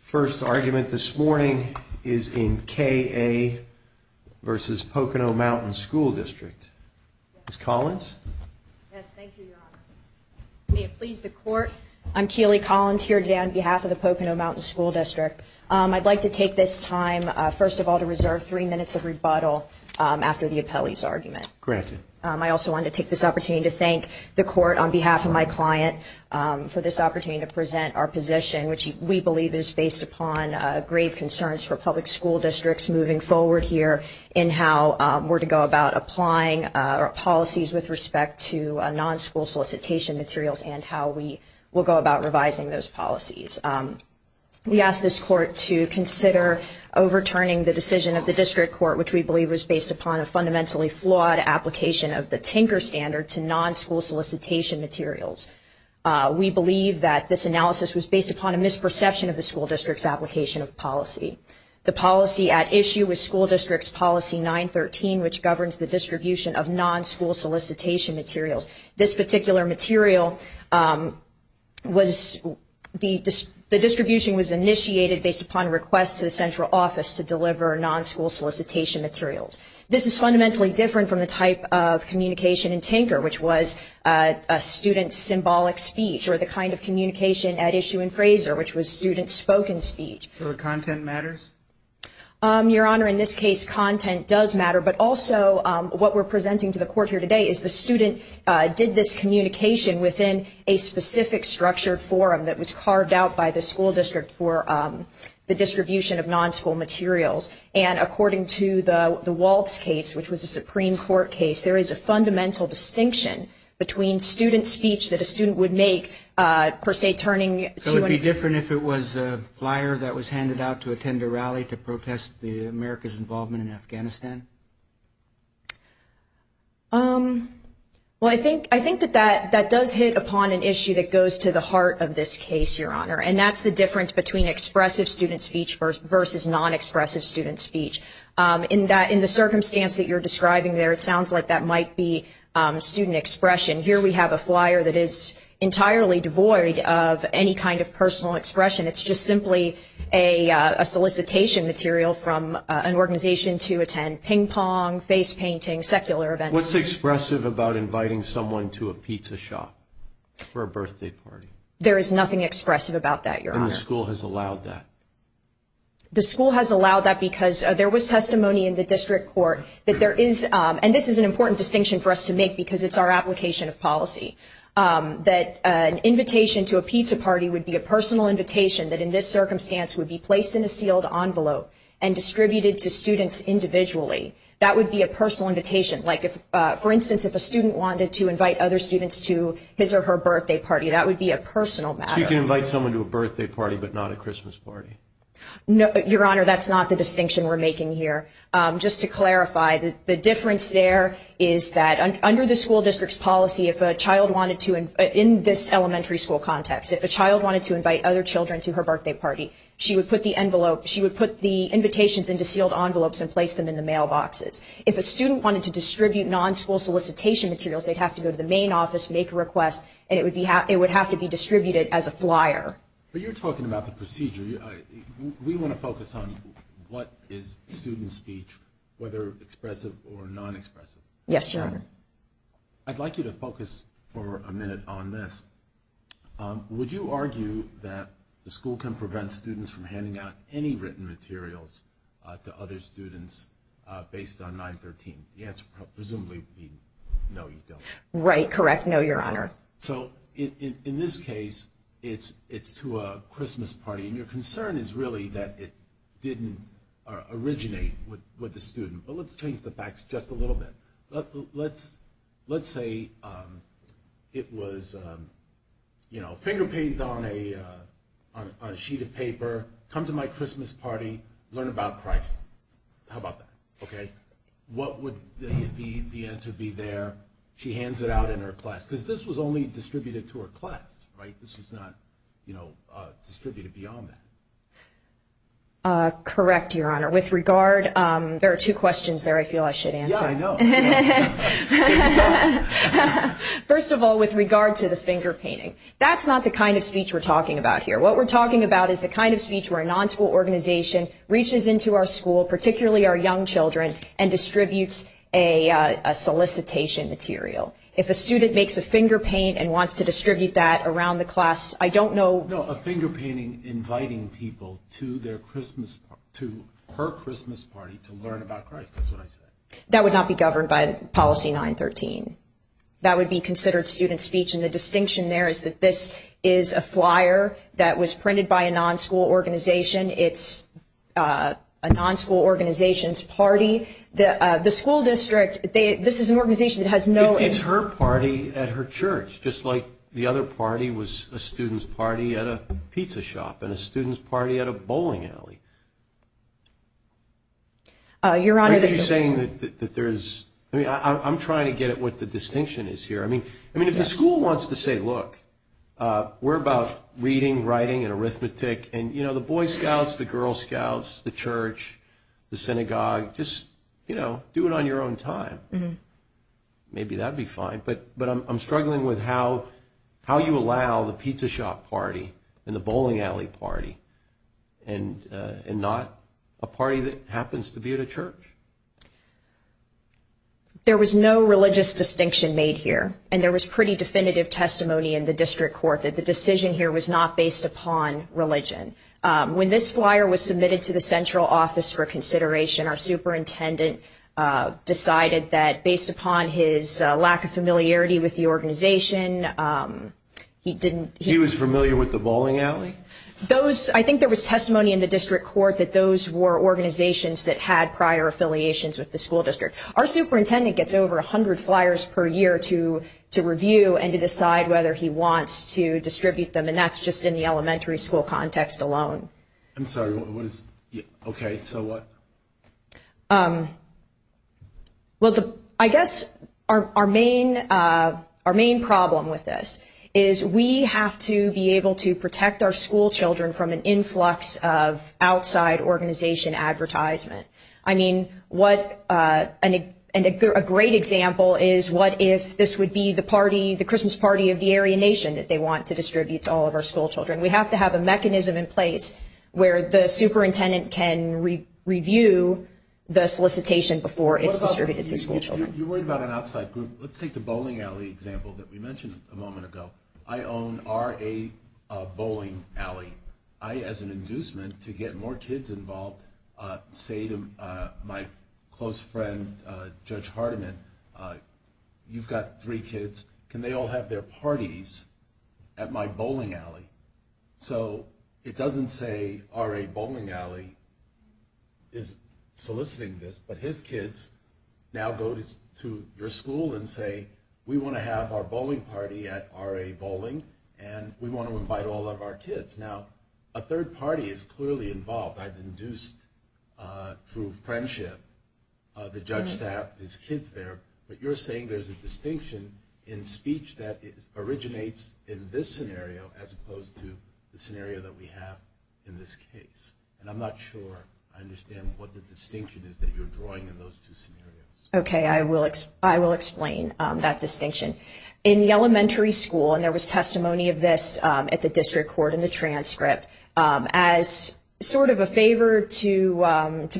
First argument this morning is in K.A. v. Pocono Mountain School District. Ms. Collins. Yes, thank you, Your Honor. May it please the Court, I'm Keely Collins here today on behalf of the Pocono Mountain School District. I'd like to take this time, first of all, to reserve three minutes of rebuttal after the appellee's argument. Granted. I also wanted to take this opportunity to thank the Court on behalf of my client for this opportunity to present our position, which we believe is based upon grave concerns for public school districts moving forward here in how we're to go about applying our policies with respect to non-school solicitation materials and how we will go about revising those policies. We ask this Court to consider overturning the decision of the distribution of non-school solicitation materials. We believe that this analysis was based upon a misperception of the school district's application of policy. The policy at issue was School District's Policy 913, which governs the distribution of non-school solicitation materials. This particular material was the distribution was initiated based upon a request to the central office to deliver non-school solicitation materials. This is fundamentally different from the type of communication in Tinker, which was a student's symbolic speech or the kind of communication at issue in Fraser, which was student's spoken speech. So the content matters? Your Honor, in this case, content does matter, but also what we're presenting to the Court here today is the student did this communication within a specific structured forum that was a student's speech. And according to the Waltz case, which was a Supreme Court case, there is a fundamental distinction between student speech that a student would make, per se, turning to a... So it would be different if it was a flyer that was handed out to attend a rally to protest America's involvement in Afghanistan? Well, I think that that does hit upon an issue that goes to the heart of this case, Your Honor. And that's the difference between expressive student speech versus non-expressive student speech. In the circumstance that you're describing there, it sounds like that might be student expression. Here we have a flyer that is entirely devoid of any kind of personal expression. It's just simply a solicitation material from an organization to attend ping pong, face painting, secular events. What's expressive about inviting someone to a pizza shop for a birthday party? There is nothing expressive about that, Your Honor. And the school has allowed that? The school has allowed that because there was testimony in the District Court that there is, and this is an important distinction for us to make because it's our application of policy, that an invitation to a pizza party would be a personal invitation that in this circumstance would be placed in a sealed envelope and distributed to students individually. That would be a personal invitation. Like, for instance, if a student wanted to invite other students to his or her birthday party, that would be a personal matter. So you can invite someone to a birthday party but not a Christmas party? No, Your Honor, that's not the distinction we're making here. Just to clarify, the difference there is that under the school district's policy, if a child wanted to, in this elementary school context, if a child wanted to invite other children to her birthday party, she would put the invitations into sealed envelopes and place them in the mailboxes. If a student wanted to distribute non-school solicitation materials, they'd have to go to the main office, make a request, and it would have to be distributed as a flyer. But you're talking about the procedure. We want to focus on what is student speech, whether expressive or non-expressive. Yes, Your Honor. I'd like you to focus for a minute on this. Would you argue that the school can prevent students from handing out any written materials to other students based on 913? The answer would presumably be no, you don't. Right, correct, no, Your Honor. So, in this case, it's to a Christmas party, and your concern is really that it didn't originate with the student. But let's change the facts just a little bit. Let's say it was, you know, finger-painted on a sheet of paper, come to my Christmas party, learn about Christ. How about that? Okay, what would the answer be there, she hands it out in her class? Because this was only distributed to her class, right? This was not, you know, distributed beyond that. Correct, Your Honor. With regard, there are two questions there I feel I should answer. First of all, with regard to the finger-painting, that's not the kind of speech we're talking about here. What we're talking about is the kind of speech where a non-school organization reaches into our school, particularly our young children, and distributes a solicitation material. If a student makes a finger-paint and wants to distribute that around the class, I don't know... No, a finger-painting inviting people to her Christmas party to learn about Christ, that's what I said. That would not be governed by policy 913. That would be considered student speech, and the distinction there is that this is a flyer that was printed by a non-school organization. It's a non-school organization's party. The school district, this is an organization that has no... It's her party at her church, just like the other party was a student's party at a pizza shop and a student's party at a bowling alley. You're saying that there's... I'm trying to get at what the distinction is here. If the school wants to say, look, we're about reading, writing, and arithmetic, and the Boy Scouts, the Girl Scouts, the church, the synagogue, just do it on your own time. Maybe that'd be fine, but I'm struggling with how you allow the pizza shop party and the bowling alley party and not a party that happens to be at a church. There was no religious distinction made here, and there was pretty definitive testimony in the district court that the decision here was not based upon religion. When this flyer was submitted to the central office for consideration, our superintendent decided that he didn't... He was familiar with the bowling alley? I think there was testimony in the district court that those were organizations that had prior affiliations with the school district. Our superintendent gets over 100 flyers per year to review and to decide whether he wants to distribute them, and that's just in the elementary school context alone. Okay, so what? Well, I guess our main problem with this is we have to be able to protect our school children from an influx of outside organization advertisement. I mean, what... And a great example is what if this would be the party, the Christmas party of the Aryan Nation that they want to distribute to all of our school children? We have to have a mechanism in place where the superintendent can review the solicitation before it's distributed to school children. You're worried about an outside group. Let's take the bowling alley example that we mentioned a moment ago. I own RA Bowling Alley. I, as an inducement to get more kids involved, say to my close friend, Judge Hardiman, you've got three kids. Can they all have their parties at my bowling alley? So it doesn't say RA Bowling Alley is soliciting this, but his kids now go to your school and say, we want to have our bowling party at RA Bowling, and we want to invite all of our kids. Now, a third party is clearly involved. I've seen this before, but you're saying there's a distinction in speech that originates in this scenario as opposed to the scenario that we have in this case. And I'm not sure I understand what the distinction is that you're drawing in those two scenarios. Okay, I will explain that distinction. In the elementary school, and there was testimony of this at the district court in the transcript, as sort of a favor to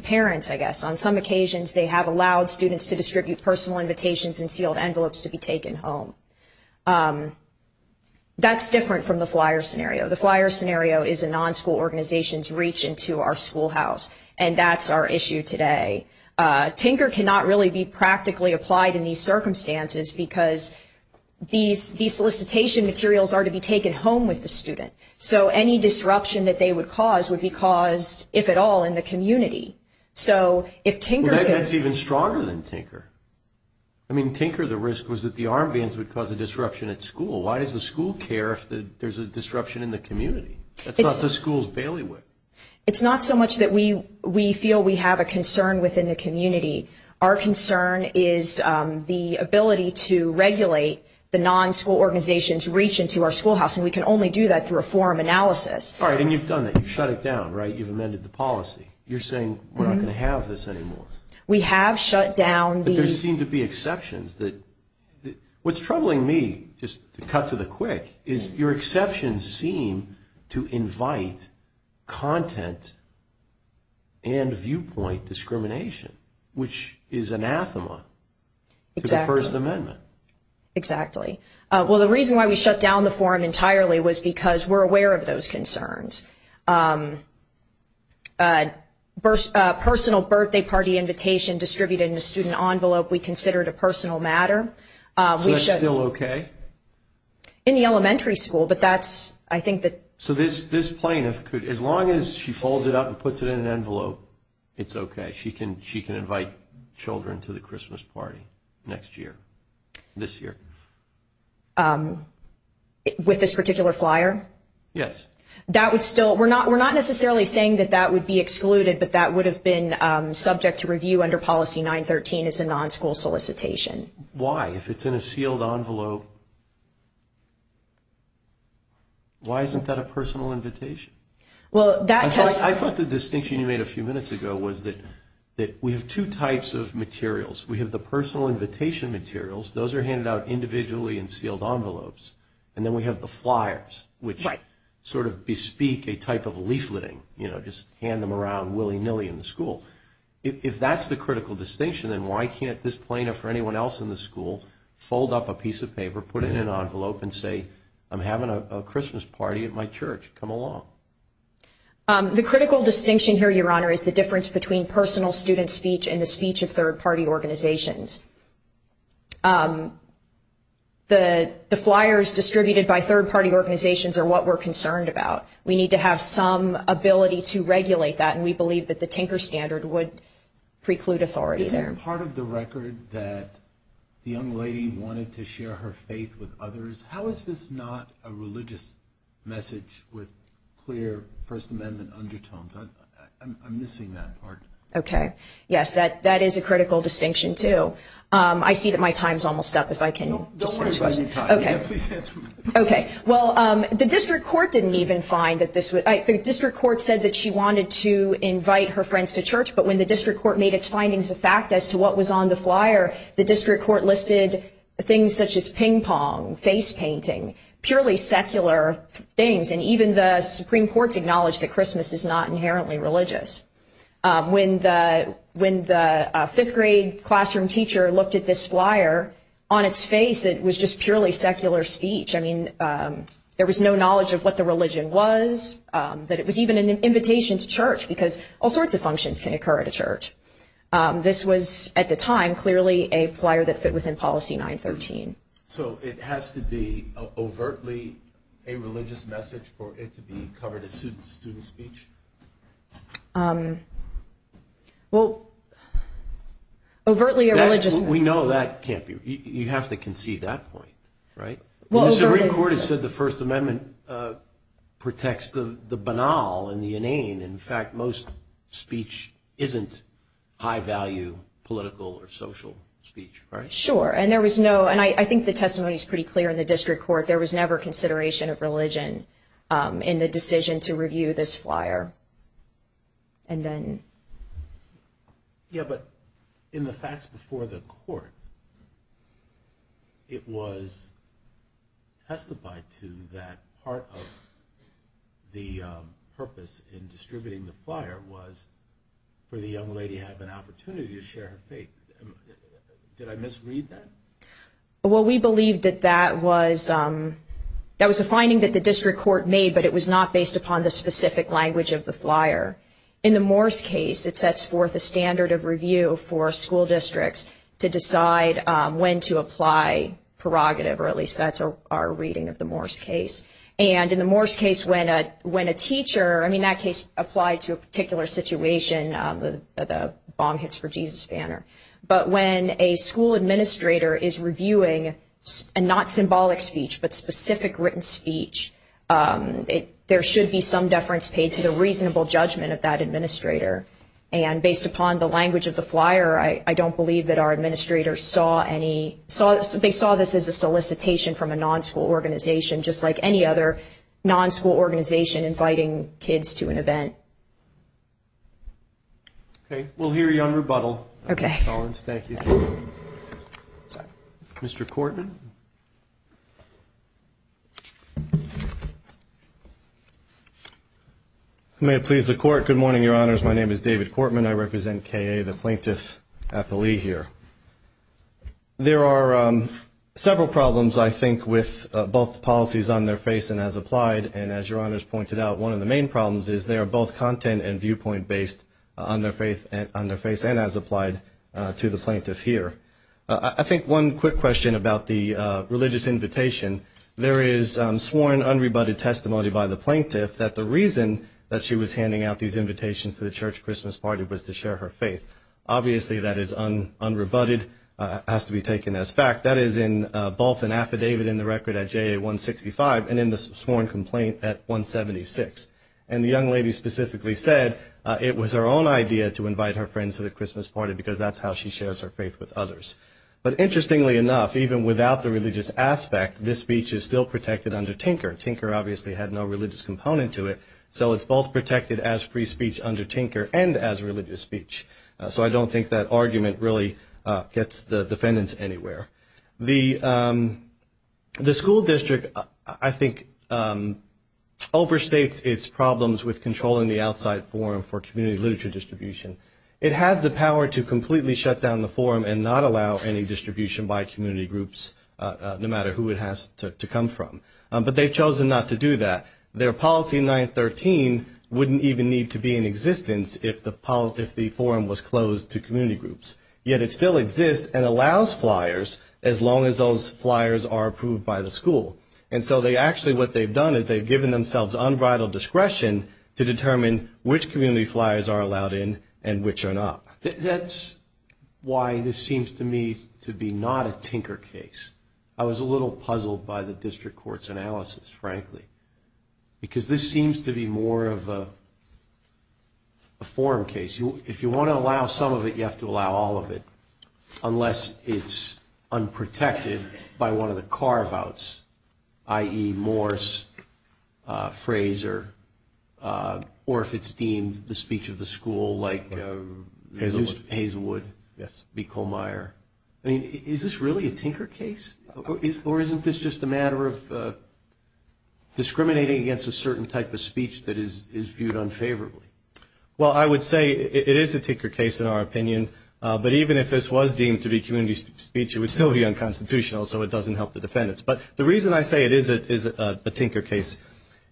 parents, I guess. On some occasions, they have allowed students to distribute personal invitations and sealed envelopes to be taken home. That's different from the flyer scenario. The flyer scenario is a non-school organization's reach into our schoolhouse, and that's our issue today. Tinker cannot really be practically applied in these circumstances because these solicitation materials are to be taken home with the student. So any disruption that they would cause would be caused, if at all, in the community. So if Tinker... Well, that's even stronger than Tinker. I mean, Tinker, the risk was that the arm bands would cause a disruption at school. Why does the school care if there's a disruption in the community? That's not the school's bailiwick. It's not so much that we feel we have a concern within the community. Our concern is the ability to regulate the non-school organization's reach into our schoolhouse, and we can only do that through a forum analysis. All right, and you've done that. You've shut it down, right? You've amended the policy. You're saying we're not going to have this anymore. We have shut down the... But there seem to be exceptions that... What's troubling me, just to cut to the quick, is your exceptions seem to invite content and viewpoint discrimination, which is anathema to the First Amendment. Exactly. Well, the reason why we shut down the forum entirely was because we're aware of those concerns. Personal birthday party invitation distributed in a student envelope we considered a personal matter. So that's still okay? In the elementary school, but that's... I think that... So this plaintiff could... As long as she folds it up and puts it in an envelope, it's okay. She can invite children to the Christmas party next year, this year. With this particular flyer? Yes. We're not necessarily saying that that would be excluded, but that would have been subject to review under Policy 913 as a non-school solicitation. Why? If it's in a sealed envelope... Why isn't that a personal invitation? I thought the distinction you made a few minutes ago was that we have two types of materials. We have the personal invitation materials. Those are handed out individually in sealed envelopes. And then we have the flyers, which sort of bespeak a type of leafleting. You know, just hand them around willy-nilly in the school. If that's the critical distinction, then why can't this plaintiff or anyone else in the school fold up a piece of paper, put it in an envelope, and say, I'm having a Christmas party at my church. Come along. The critical distinction here, Your Honor, is the difference between personal student speech and the speech of third-party organizations. The flyers distributed by third-party organizations are what we're concerned about. We need to have some ability to regulate that, and we believe that the Tinker Standard would preclude authority there. Is it part of the record that the young lady wanted to share her faith with others? How is this not a religious message with clear First Amendment undertones? I'm missing that part. Okay. Yes, that is a critical distinction, too. I see that my time's almost up. If I can just switch. Okay. Okay. Well, the district court didn't even find that this would – the district court said that she wanted to invite her friends to church. But when the district court made its findings a fact as to what was on the flyer, the district court listed things such as ping pong, face painting, purely secular things. And even the Supreme Court's acknowledged that Christmas is not inherently religious. When the fifth-grade classroom teacher looked at this flyer, on its face it was just purely secular speech. I mean, there was no knowledge of what the religion was, that it was even an invitation to church, because all sorts of functions can occur at a church. This was, at the time, clearly a flyer that fit within Policy 913. So it has to be overtly a religious message for it to be covered as student speech? Well, overtly a religious – We know that can't be – you have to conceive that point, right? The Supreme Court has said the First Amendment protects the banal and the inane. In fact, most speech isn't high-value political or social speech, right? Sure. And I think the testimony is pretty clear in the district court. There was never consideration of religion in the decision to review this flyer. Yeah, but in the facts before the court, it was testified to that part of the purpose in distributing the flyer was for the young lady to have an opportunity to share her faith. Did I misread that? Well, we believe that that was a finding that the district court made, but it was not based upon the specific language of the flyer. In the Morse case, it sets forth a standard of review for school districts to decide when to apply prerogative, or at least that's our reading of the Morse case. And in the Morse case, when a teacher – I mean, that case applied to a particular situation, the bong hits for Jesus banner. But when a school administrator is reviewing a not symbolic speech, but specific written speech, there should be some deference paid to the reasonable judgment of that administrator. And based upon the language of the presentation from a non-school organization, just like any other non-school organization inviting kids to an event. Okay, we'll hear you on rebuttal, Ms. Collins. Thank you. Mr. Cortman. May it please the Court. Good morning, Your Honors. My name is David Cortman. I represent K.A., the plaintiff at the Lee here. There are several problems, I think, with both policies on their face and as applied. And as Your Honors pointed out, one of the main problems is they are both content and viewpoint based on their face and as applied to the plaintiff here. I think one quick question about the religious invitation. There is sworn unrebutted testimony by the plaintiff that the reason that she was handing out these invitations to the church Christmas party was to share her faith. Obviously, that is unrebutted, has to be taken as fact. That is in both an affidavit in the record at J.A. 165 and in the sworn complaint at 176. And the young lady specifically said it was her own idea to invite her friends to the Christmas party because that's how she shares her faith with others. But interestingly enough, even without the religious aspect, this speech is still protected under Tinker. Tinker obviously had no religious component to it, so it's both protected as free speech under Tinker and as religious speech. So I don't think that argument really gets the defendants anywhere. The school district, I think, overstates its problems with controlling the outside forum for community literature distribution. It has the power to completely shut down the forum and not allow any distribution by community groups, no matter who it has to come from. But they've chosen not to do that. Their policy 913 wouldn't even need to be in existence if the forum was closed to community groups. Yet it still exists and allows flyers as long as those flyers are approved by the school. And so they actually, what they've done is they've given themselves unbridled discretion to determine which community flyers are allowed in and which are not. That's why this seems to me to be not a Tinker case. I was a little puzzled by the district court's analysis, frankly. Because this seems to be more of a forum case. If you want to allow some of it, you have to allow all of it, unless it's unprotected by one of the carve-outs, i.e. Morse, Frazer, or if it's deemed the speech of the school, like Hazelwood, B. Colmeyer. I mean, is this really a Tinker case? Or isn't this just a matter of discriminating against the school? Or discriminating against a certain type of speech that is viewed unfavorably? Well, I would say it is a Tinker case, in our opinion. But even if this was deemed to be community speech, it would still be unconstitutional, so it doesn't help the defendants. But the reason I say it is a Tinker case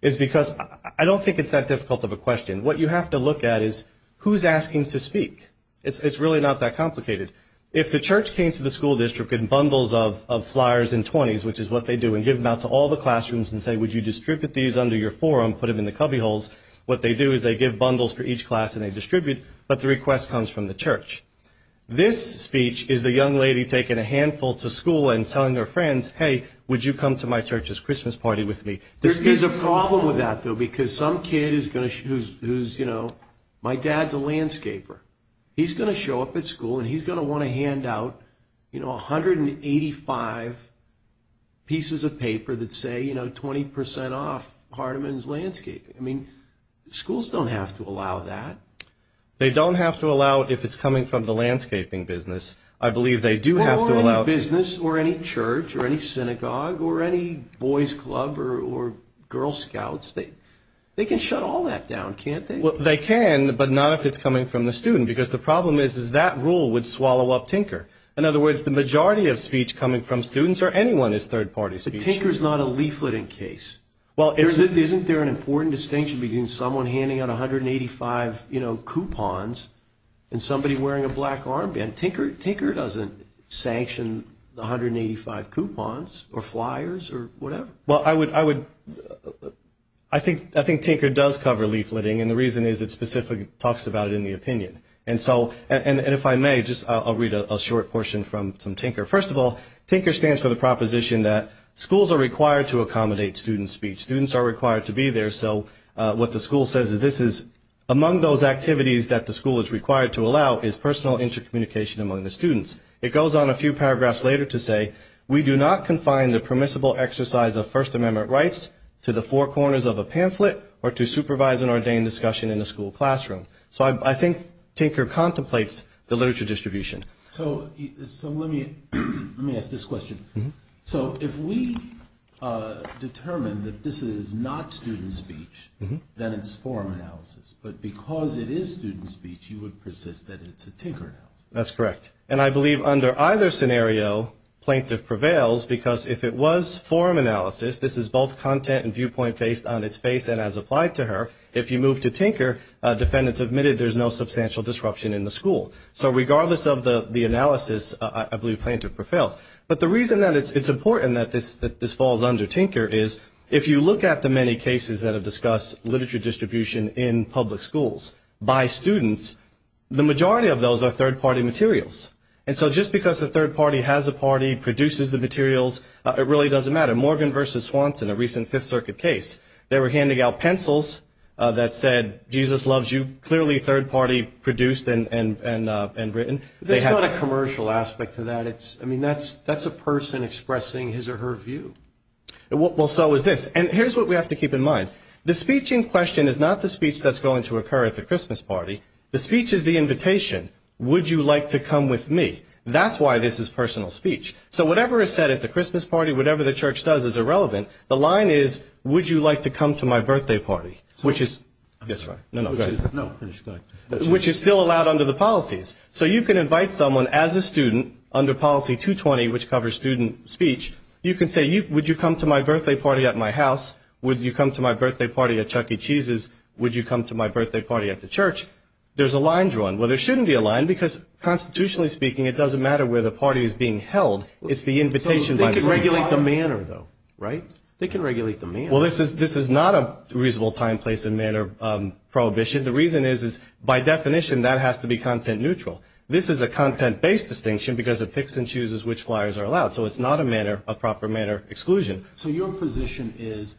is because I don't think it's that difficult of a question. What you have to look at is who's asking to speak? It's really not that complicated. If the church came to the school district in bundles of flyers in 20s, which is what they do, and give them out to all the classrooms and say, would you distribute these under your forum, put them in the cubbyholes, what they do is they give bundles for each class and they distribute, but the request comes from the church. This speech is the young lady taking a handful to school and telling her friends, hey, would you come to my church's Christmas party with me? There is a problem with that, though, because some kid who's, you know, my dad's a landscaper. He's going to show up at school and he's going to want to hand out, you know, 185 pieces of paper that say, you know, 20% off Hardeman's landscaping. I mean, schools don't have to allow that. They don't have to allow it if it's coming from the landscaping business. I believe they do have to allow it. Or any business or any church or any synagogue or any boys club or Girl Scouts. They can shut all that down, can't they? Well, they can, but not if it's coming from the student, because the problem is that rule would swallow up Tinker. In other words, the majority of speech coming from students or anyone is third-party speech. But Tinker's not a leafleting case. Isn't there an important distinction between someone handing out 185, you know, coupons and somebody wearing a black armband? Tinker doesn't sanction the 185 coupons or flyers or whatever. Well, I think Tinker does cover leafleting, and the reason is it specifically talks about it in the opinion. And so, and if I may, I'll read a short portion from Tinker. First of all, Tinker stands for the proposition that schools are required to accommodate student speech. Students are required to be there, so what the school says is this is among those activities that the school is required to allow is personal intercommunication among the students. It goes on a few paragraphs later to say, we do not confine the permissible exercise of First Amendment rights to the four corners of a classroom. Tinker contemplates the literature distribution. So let me ask this question. So if we determine that this is not student speech, then it's forum analysis. But because it is student speech, you would persist that it's a Tinker analysis. So regardless of the analysis, I believe Plaintiff prevails. But the reason that it's important that this falls under Tinker is if you look at the many cases that have discussed literature distribution in public schools by students, the majority of those are third-party materials. And so just because the third party has a party, produces the materials, it really doesn't matter. Morgan v. Swanson, a recent Fifth Circuit case, they were handing out pencils that said, Jesus loves you, clearly third-party produced and written. There's not a commercial aspect to that. I mean, that's a person expressing his or her view. Well, so is this. And here's what we have to keep in mind. The speech in question is not the speech that's going to occur at the Christmas party. The speech is the invitation. Would you like to come with me? That's why this is personal speech. So whatever is said at the Christmas party, whatever the church does is irrelevant. The line is, would you like to come to my birthday party, which is still allowed under the policies. So you can invite someone as a student under policy 220, which covers student speech. You can say, would you come to my birthday party at my house? Would you come to my birthday party at Chuck E. Cheese's? Would you come to my birthday party at the church? There's a line drawn. Well, there shouldn't be a line, because constitutionally speaking, it doesn't matter where the party is being held. It's the invitation. They can regulate the manner, though, right? They can regulate the manner. Well, this is not a reasonable time, place, and manner prohibition. The reason is, by definition, that has to be content neutral. This is a content-based distinction, because it picks and chooses which flyers are allowed. So it's not a proper manner exclusion. So your position is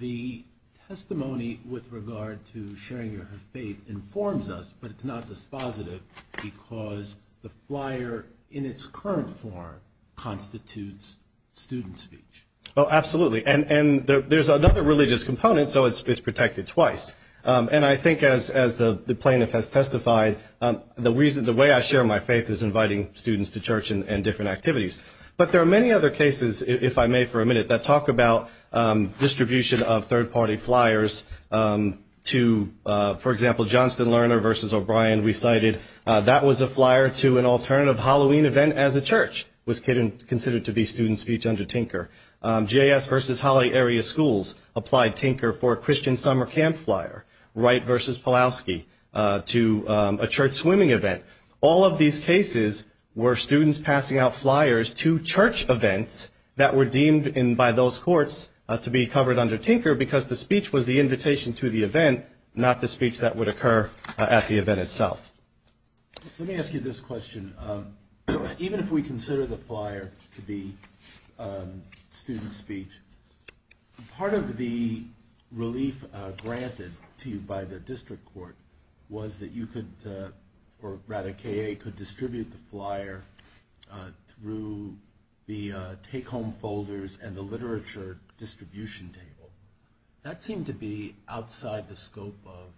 the testimony with regard to sharing your faith informs us, but it's not dispositive, because the flyer in its current form constitutes student speech. Oh, absolutely, and there's another religious component, so it's protected twice. And I think, as the plaintiff has testified, the way I share my faith is inviting students to church and different activities. But there are many other cases, if I may for a minute, that talk about distribution of third-party flyers to, for example, Johnston Lerner v. O'Brien recited, that was a flyer to an alternative Halloween event as a church, was considered to be student speech under Tinker. J.S. v. Holly Area Schools applied Tinker for a Christian summer camp flyer, Wright v. Pulaski, to a church swimming event. All of these cases were students passing out flyers to church events that were deemed by those courts to be covered under Tinker, because the speech was the invitation to the event, not the speech that would occur at the event itself. Let me ask you this question. Even if we consider the flyer to be student speech, part of the relief granted to you by the district court was that you could, or rather, K.A., could distribute the flyer through the take-home folders and the literature distribution table. That seemed to be outside the scope of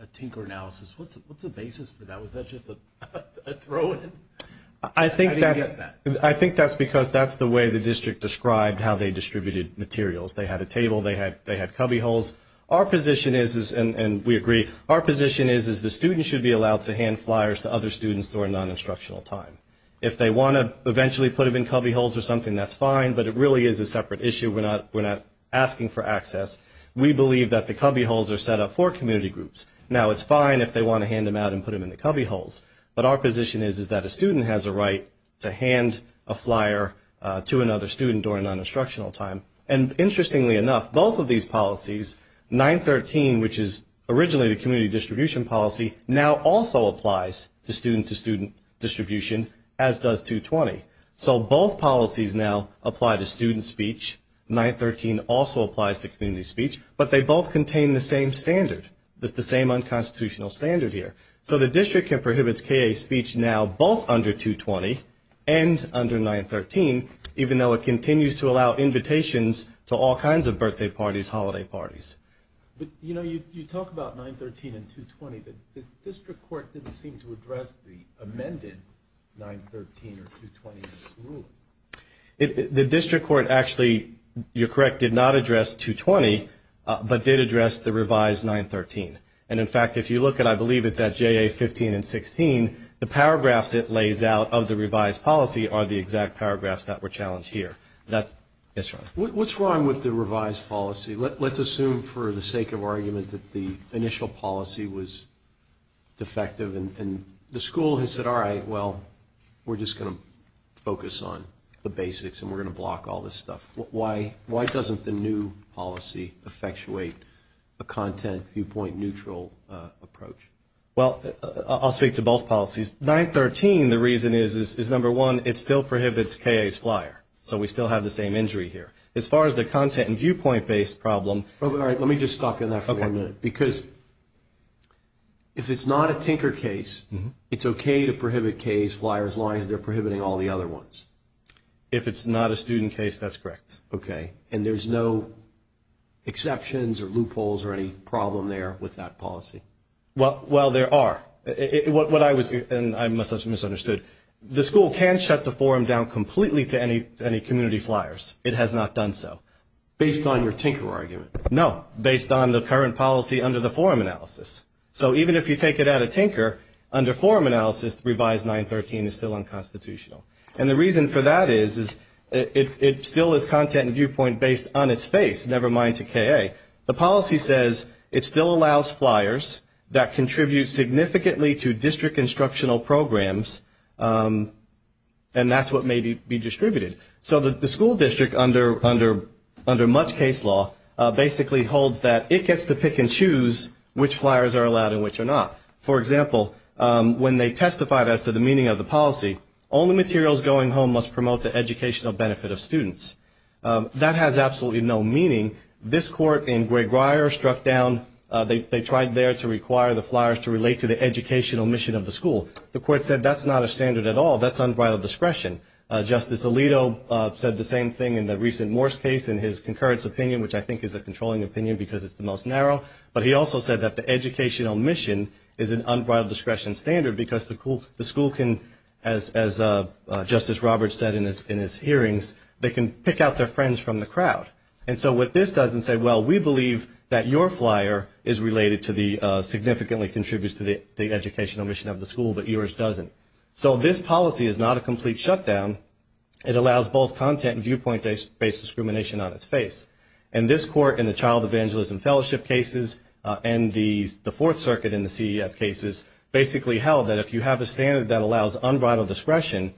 a Tinker analysis. What's the basis for that? Was that just a throw-in? I think that's because that's the way the district described how they distributed materials. They had a table. They had cubbyholes. Our position is, and we agree, our position is the student should be allowed to hand flyers to other students during non-instructional time. If they want to eventually put them in cubbyholes or something, that's fine, but it really is a separate issue. We're not asking for access. We believe that the cubbyholes are set up for community groups. Now, it's fine if they want to hand them out and put them in the cubbyholes, but our position is that a student has a right to hand a flyer to another student during non-instructional time. And interestingly enough, both of these policies, 913, which is originally the community distribution policy, now also applies to student-to-student distribution, as does 220. So both policies now apply to student speech. 913 also applies to community speech, but they both contain the same standard, the same unconstitutional standard here. So the district prohibits KA speech now both under 220 and under 913, even though it continues to allow invitations to all kinds of birthday parties, holiday parties. But, you know, you talk about 913 and 220, but the district court didn't seem to address the amended 913 or 220 in this ruling. The district court actually, you're correct, did not address 220, but did address the revised 913. And in fact, if you look at, I believe it's at JA 15 and 16, the paragraphs it lays out of the revised policy are the exact paragraphs that were challenged here. What's wrong with the revised policy? Let's assume for the sake of argument that the initial policy was defective, and the school has said, all right, well, we're just going to focus on the basics, and we're going to block all this stuff. Why doesn't the new policy effectuate a content viewpoint neutral approach? Well, I'll speak to both policies. 913, the reason is, is number one, it still prohibits KA's flyer, so we still have the same injury here. As far as the content and viewpoint-based problem. All right, let me just stop you on that for one minute, because if it's not a Tinker case, it's okay to prohibit KA's flyers as long as they're prohibiting all the other ones. If it's not a student case, that's correct. Okay, and there's no exceptions or loopholes or any problem there with that policy? Well, there are. And I must have misunderstood. The school can shut the forum down completely to any community flyers. It has not done so. Based on your Tinker argument? No, based on the current policy under the forum analysis. So even if you take it out of Tinker, under forum analysis, the revised 913 is still unconstitutional. And the reason for that is, is it still is content and viewpoint based on its face, never mind to KA. The policy says it still allows flyers that contribute significantly to district instructional programs, and that's what may be distributed. So the school district, under much case law, basically holds that it gets to pick and choose which flyers are allowed and which are not. For example, when they testified as to the meaning of the policy, only materials going home must promote the educational benefit of students. That has absolutely no meaning. This court in Gray Grier struck down, they tried there to require the flyers to relate to the educational mission of the school. The court said that's not a standard at all. That's unbridled discretion. Justice Alito said the same thing in the recent Morse case in his concurrence opinion, which I think is a controlling opinion because it's the most narrow. But he also said that the educational mission is an unbridled discretion standard because the school can, as Justice Roberts said in his hearings, they can pick out their friends from the crowd. And so what this does is say, well, we believe that your flyer is related to the, significantly contributes to the educational mission of the school, but yours doesn't. So this policy is not a complete shutdown. It allows both content and viewpoint-based discrimination on its face. And this court in the Child Evangelism Fellowship cases and the Fourth Circuit in the CEF cases, basically held that if you have a standard that allows unbridled discretion,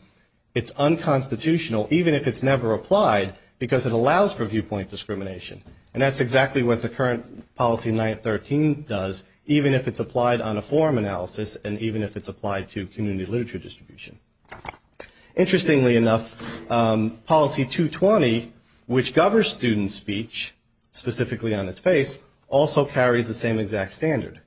it's unconstitutional, even if it's never applied, because it allows for viewpoint discrimination. And that's exactly what the current policy 913 does, even if it's applied on a forum analysis and even if it's applied to community literature distribution. Interestingly enough, policy 220, which governs student speech, specifically on its face, also carries the same exact standard,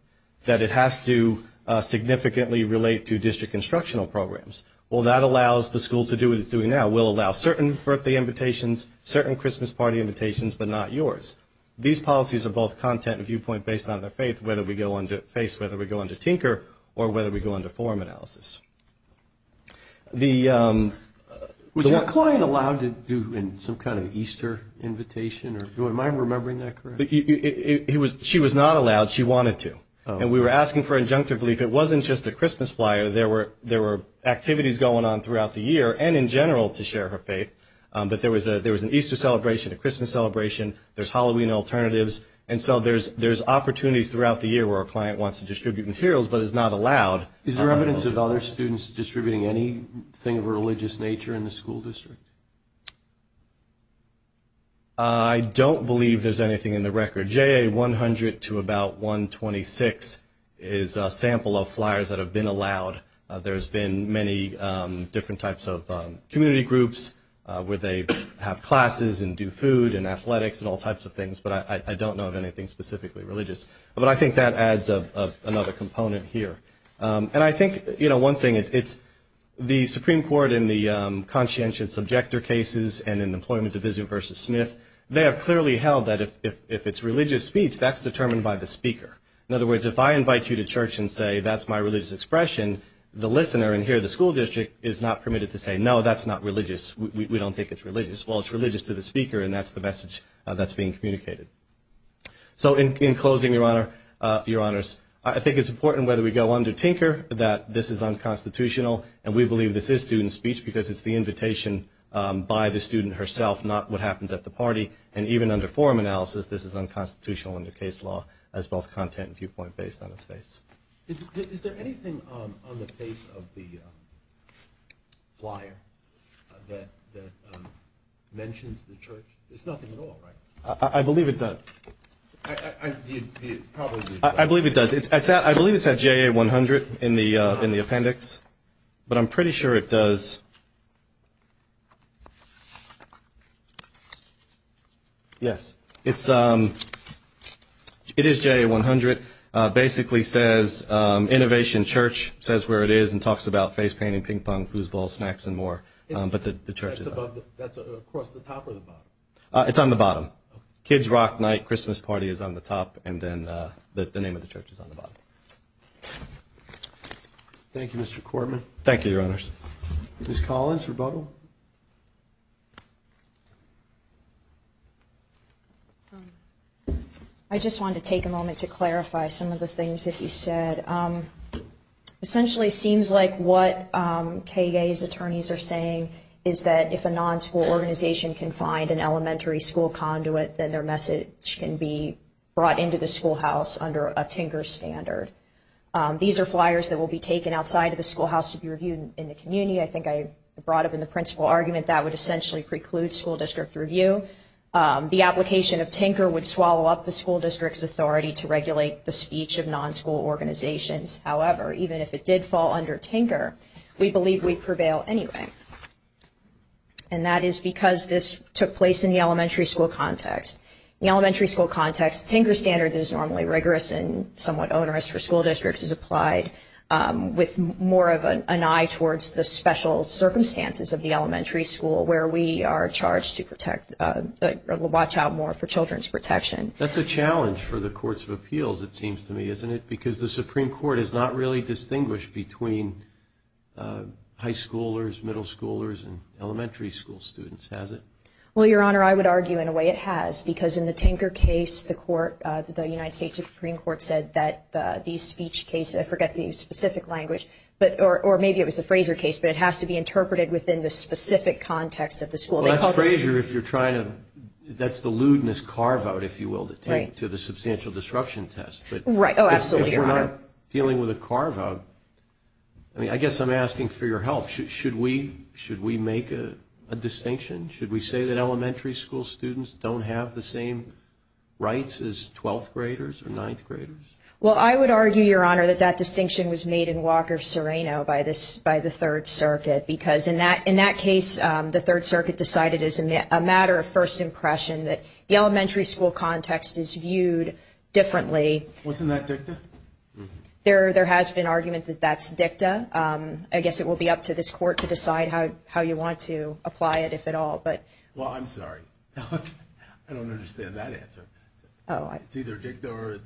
that it has to significantly relate to district instructional programs. Well, that allows the school to do what it's doing now. We'll allow certain birthday invitations, certain Christmas party invitations, but not yours. These policies are both content and viewpoint-based on their face, whether we go under tinker or whether we go under forum analysis. Was your client allowed to do some kind of Easter invitation? Am I remembering that correctly? She was not allowed. She wanted to. And we were asking for injunctive relief. If it wasn't just the Christmas flyer, there were activities going on throughout the year and in general to share her faith, but there was an Easter celebration, a Christmas celebration, there's Halloween alternatives, and so there's opportunities throughout the year where a client wants to distribute materials but is not allowed. Is there evidence of other students distributing anything of a religious nature in the school district? I don't believe there's anything in the record. Under JA 100 to about 126 is a sample of flyers that have been allowed. There's been many different types of community groups where they have classes and do food and athletics and all types of things, but I don't know of anything specifically religious. But I think that adds another component here. And I think, you know, one thing, it's the Supreme Court in the conscientious subjector cases and in the employment division versus Smith, they have clearly held that if it's religious speech, that's determined by the speaker. In other words, if I invite you to church and say that's my religious expression, the listener in here, the school district, is not permitted to say, no, that's not religious. We don't think it's religious. Well, it's religious to the speaker, and that's the message that's being communicated. So in closing, Your Honors, I think it's important whether we go under Tinker that this is unconstitutional, and we believe this is student speech because it's the invitation by the student herself, not what happens at the party. And even under forum analysis, this is unconstitutional under case law as both content and viewpoint based on its face. Is there anything on the face of the flyer that mentions the church? There's nothing at all, right? I believe it does. I believe it does. I believe it's at JA100 in the appendix, but I'm pretty sure it does. Yes, it is JA100. It basically says Innovation Church, says where it is, and talks about face painting, ping pong, foosball, snacks, and more. But the church is not. That's across the top or the bottom? It's on the bottom. Kids Rock Night Christmas Party is on the top, and then the name of the church is on the bottom. Thank you, Mr. Kortman. Thank you, Your Honors. Ms. Collins, rebuttal? I just wanted to take a moment to clarify some of the things that you said. Essentially, it seems like what KGA's attorneys are saying is that if a non-school organization can find an elementary school conduit, then their message can be brought into the schoolhouse under a Tinker standard. These are flyers that will be taken outside of the schoolhouse to be reviewed in the community. I think I brought up in the principal argument that would essentially preclude school district review. The application of Tinker would swallow up the school district's authority to regulate the speech of non-school organizations. However, even if it did fall under Tinker, we believe we'd prevail anyway. And that is because this took place in the elementary school context. In the elementary school context, Tinker standard is normally rigorous and somewhat onerous for school districts. It's applied with more of an eye towards the special circumstances of the elementary school where we are charged to watch out more for children's protection. That's a challenge for the courts of appeals, it seems to me, isn't it? Because the Supreme Court has not really distinguished between high schoolers, middle schoolers, and elementary school students, has it? Well, Your Honor, I would argue in a way it has. Because in the Tinker case, the United States Supreme Court said that the speech case, I forget the specific language, or maybe it was the Frazer case, but it has to be interpreted within the specific context of the school. Well, that's Frazer if you're trying to, that's the lewdness carve-out, if you will, to take to the substantial disruption test. Right. Oh, absolutely, Your Honor. If we're not dealing with a carve-out, I mean, I guess I'm asking for your help. Should we make a distinction? Should we say that elementary school students don't have the same rights as 12th graders or 9th graders? Well, I would argue, Your Honor, that that distinction was made in Walker-Sereno by the Third Circuit. Because in that case, the Third Circuit decided as a matter of first impression that the elementary school context is viewed differently. Wasn't that dicta? There has been argument that that's dicta. I guess it will be up to this Court to decide how you want to apply it, if at all. Well, I'm sorry. I don't understand that answer. It's either dicta or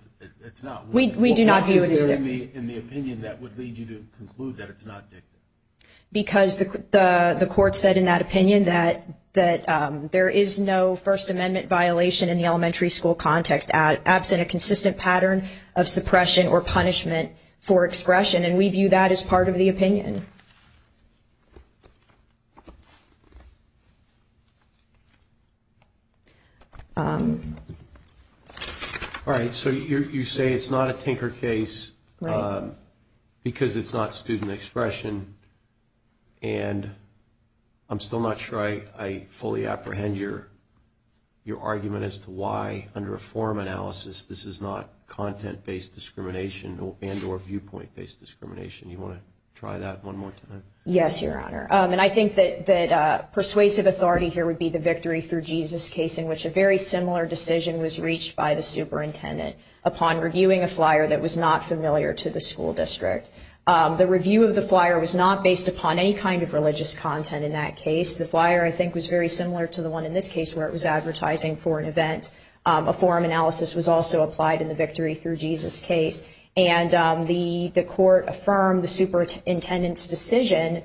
it's not. We do not view it as dicta. Why is there in the opinion that would lead you to conclude that it's not dicta? Because the Court said in that opinion that there is no First Amendment violation in the elementary school context absent a consistent pattern of suppression or punishment for expression. And we view that as part of the opinion. All right. So you say it's not a tinker case because it's not student expression. And I'm still not sure I fully apprehend your argument as to why, under a forum analysis, this is not content-based discrimination and or viewpoint-based discrimination. Do you want to try that one more time? Yes, Your Honor. And I think that persuasive authority here would be the Victory Through Jesus case in which a very similar decision was reached by the superintendent upon reviewing a flyer that was not familiar to the school district. The review of the flyer was not based upon any kind of religious content in that case. The flyer, I think, was very similar to the one in this case where it was advertising for an event. A forum analysis was also applied in the Victory Through Jesus case. And the court affirmed the superintendent's decision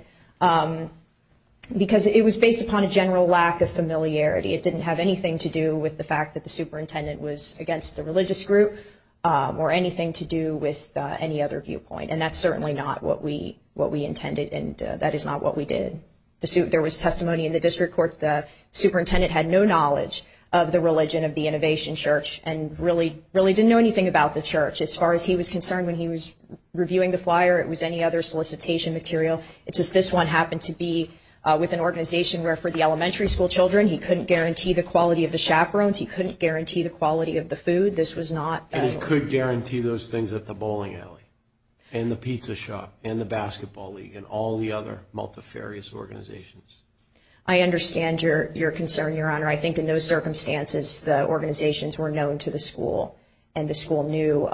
because it was based upon a general lack of familiarity. It didn't have anything to do with the fact that the superintendent was against the religious group or anything to do with any other viewpoint. And that's certainly not what we intended, and that is not what we did. There was testimony in the district court. The superintendent had no knowledge of the religion of the Innovation Church and really didn't know anything about the church. As far as he was concerned when he was reviewing the flyer, it was any other solicitation material. It's just this one happened to be with an organization where for the elementary school children, he couldn't guarantee the quality of the chaperones. He couldn't guarantee the quality of the food. This was not. And he could guarantee those things at the bowling alley and the pizza shop and the basketball league and all the other multifarious organizations. I understand your concern, Your Honor. I think in those circumstances, the organizations were known to the school, and the school knew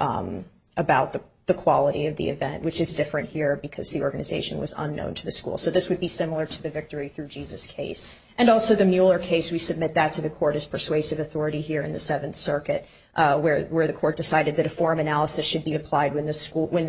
about the quality of the event, which is different here because the organization was unknown to the school. So this would be similar to the Victory Through Jesus case. And also the Mueller case, we submit that to the court as persuasive authority here in the Seventh Circuit where the court decided that a forum analysis should be applied when the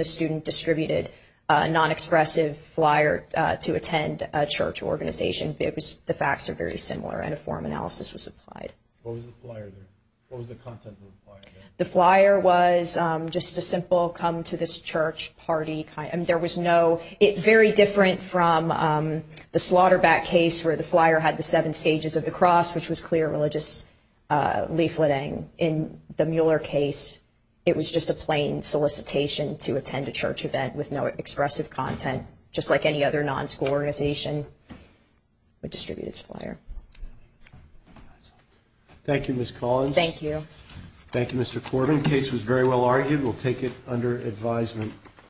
student distributed a non-expressive flyer to attend a church organization. The facts are very similar, and a forum analysis was applied. What was the flyer there? What was the content of the flyer there? The flyer was just a simple come to this church party. I mean, there was no – very different from the Slaughterbat case where the flyer had the seven stages of the cross, which was clear religious leafleting. In the Mueller case, it was just a plain solicitation to attend a church event with no expressive content, just like any other non-school organization with distributed flyer. Thank you, Ms. Collins. Thank you. Thank you, Mr. Corbin. The case was very well argued. We'll take it under advisement.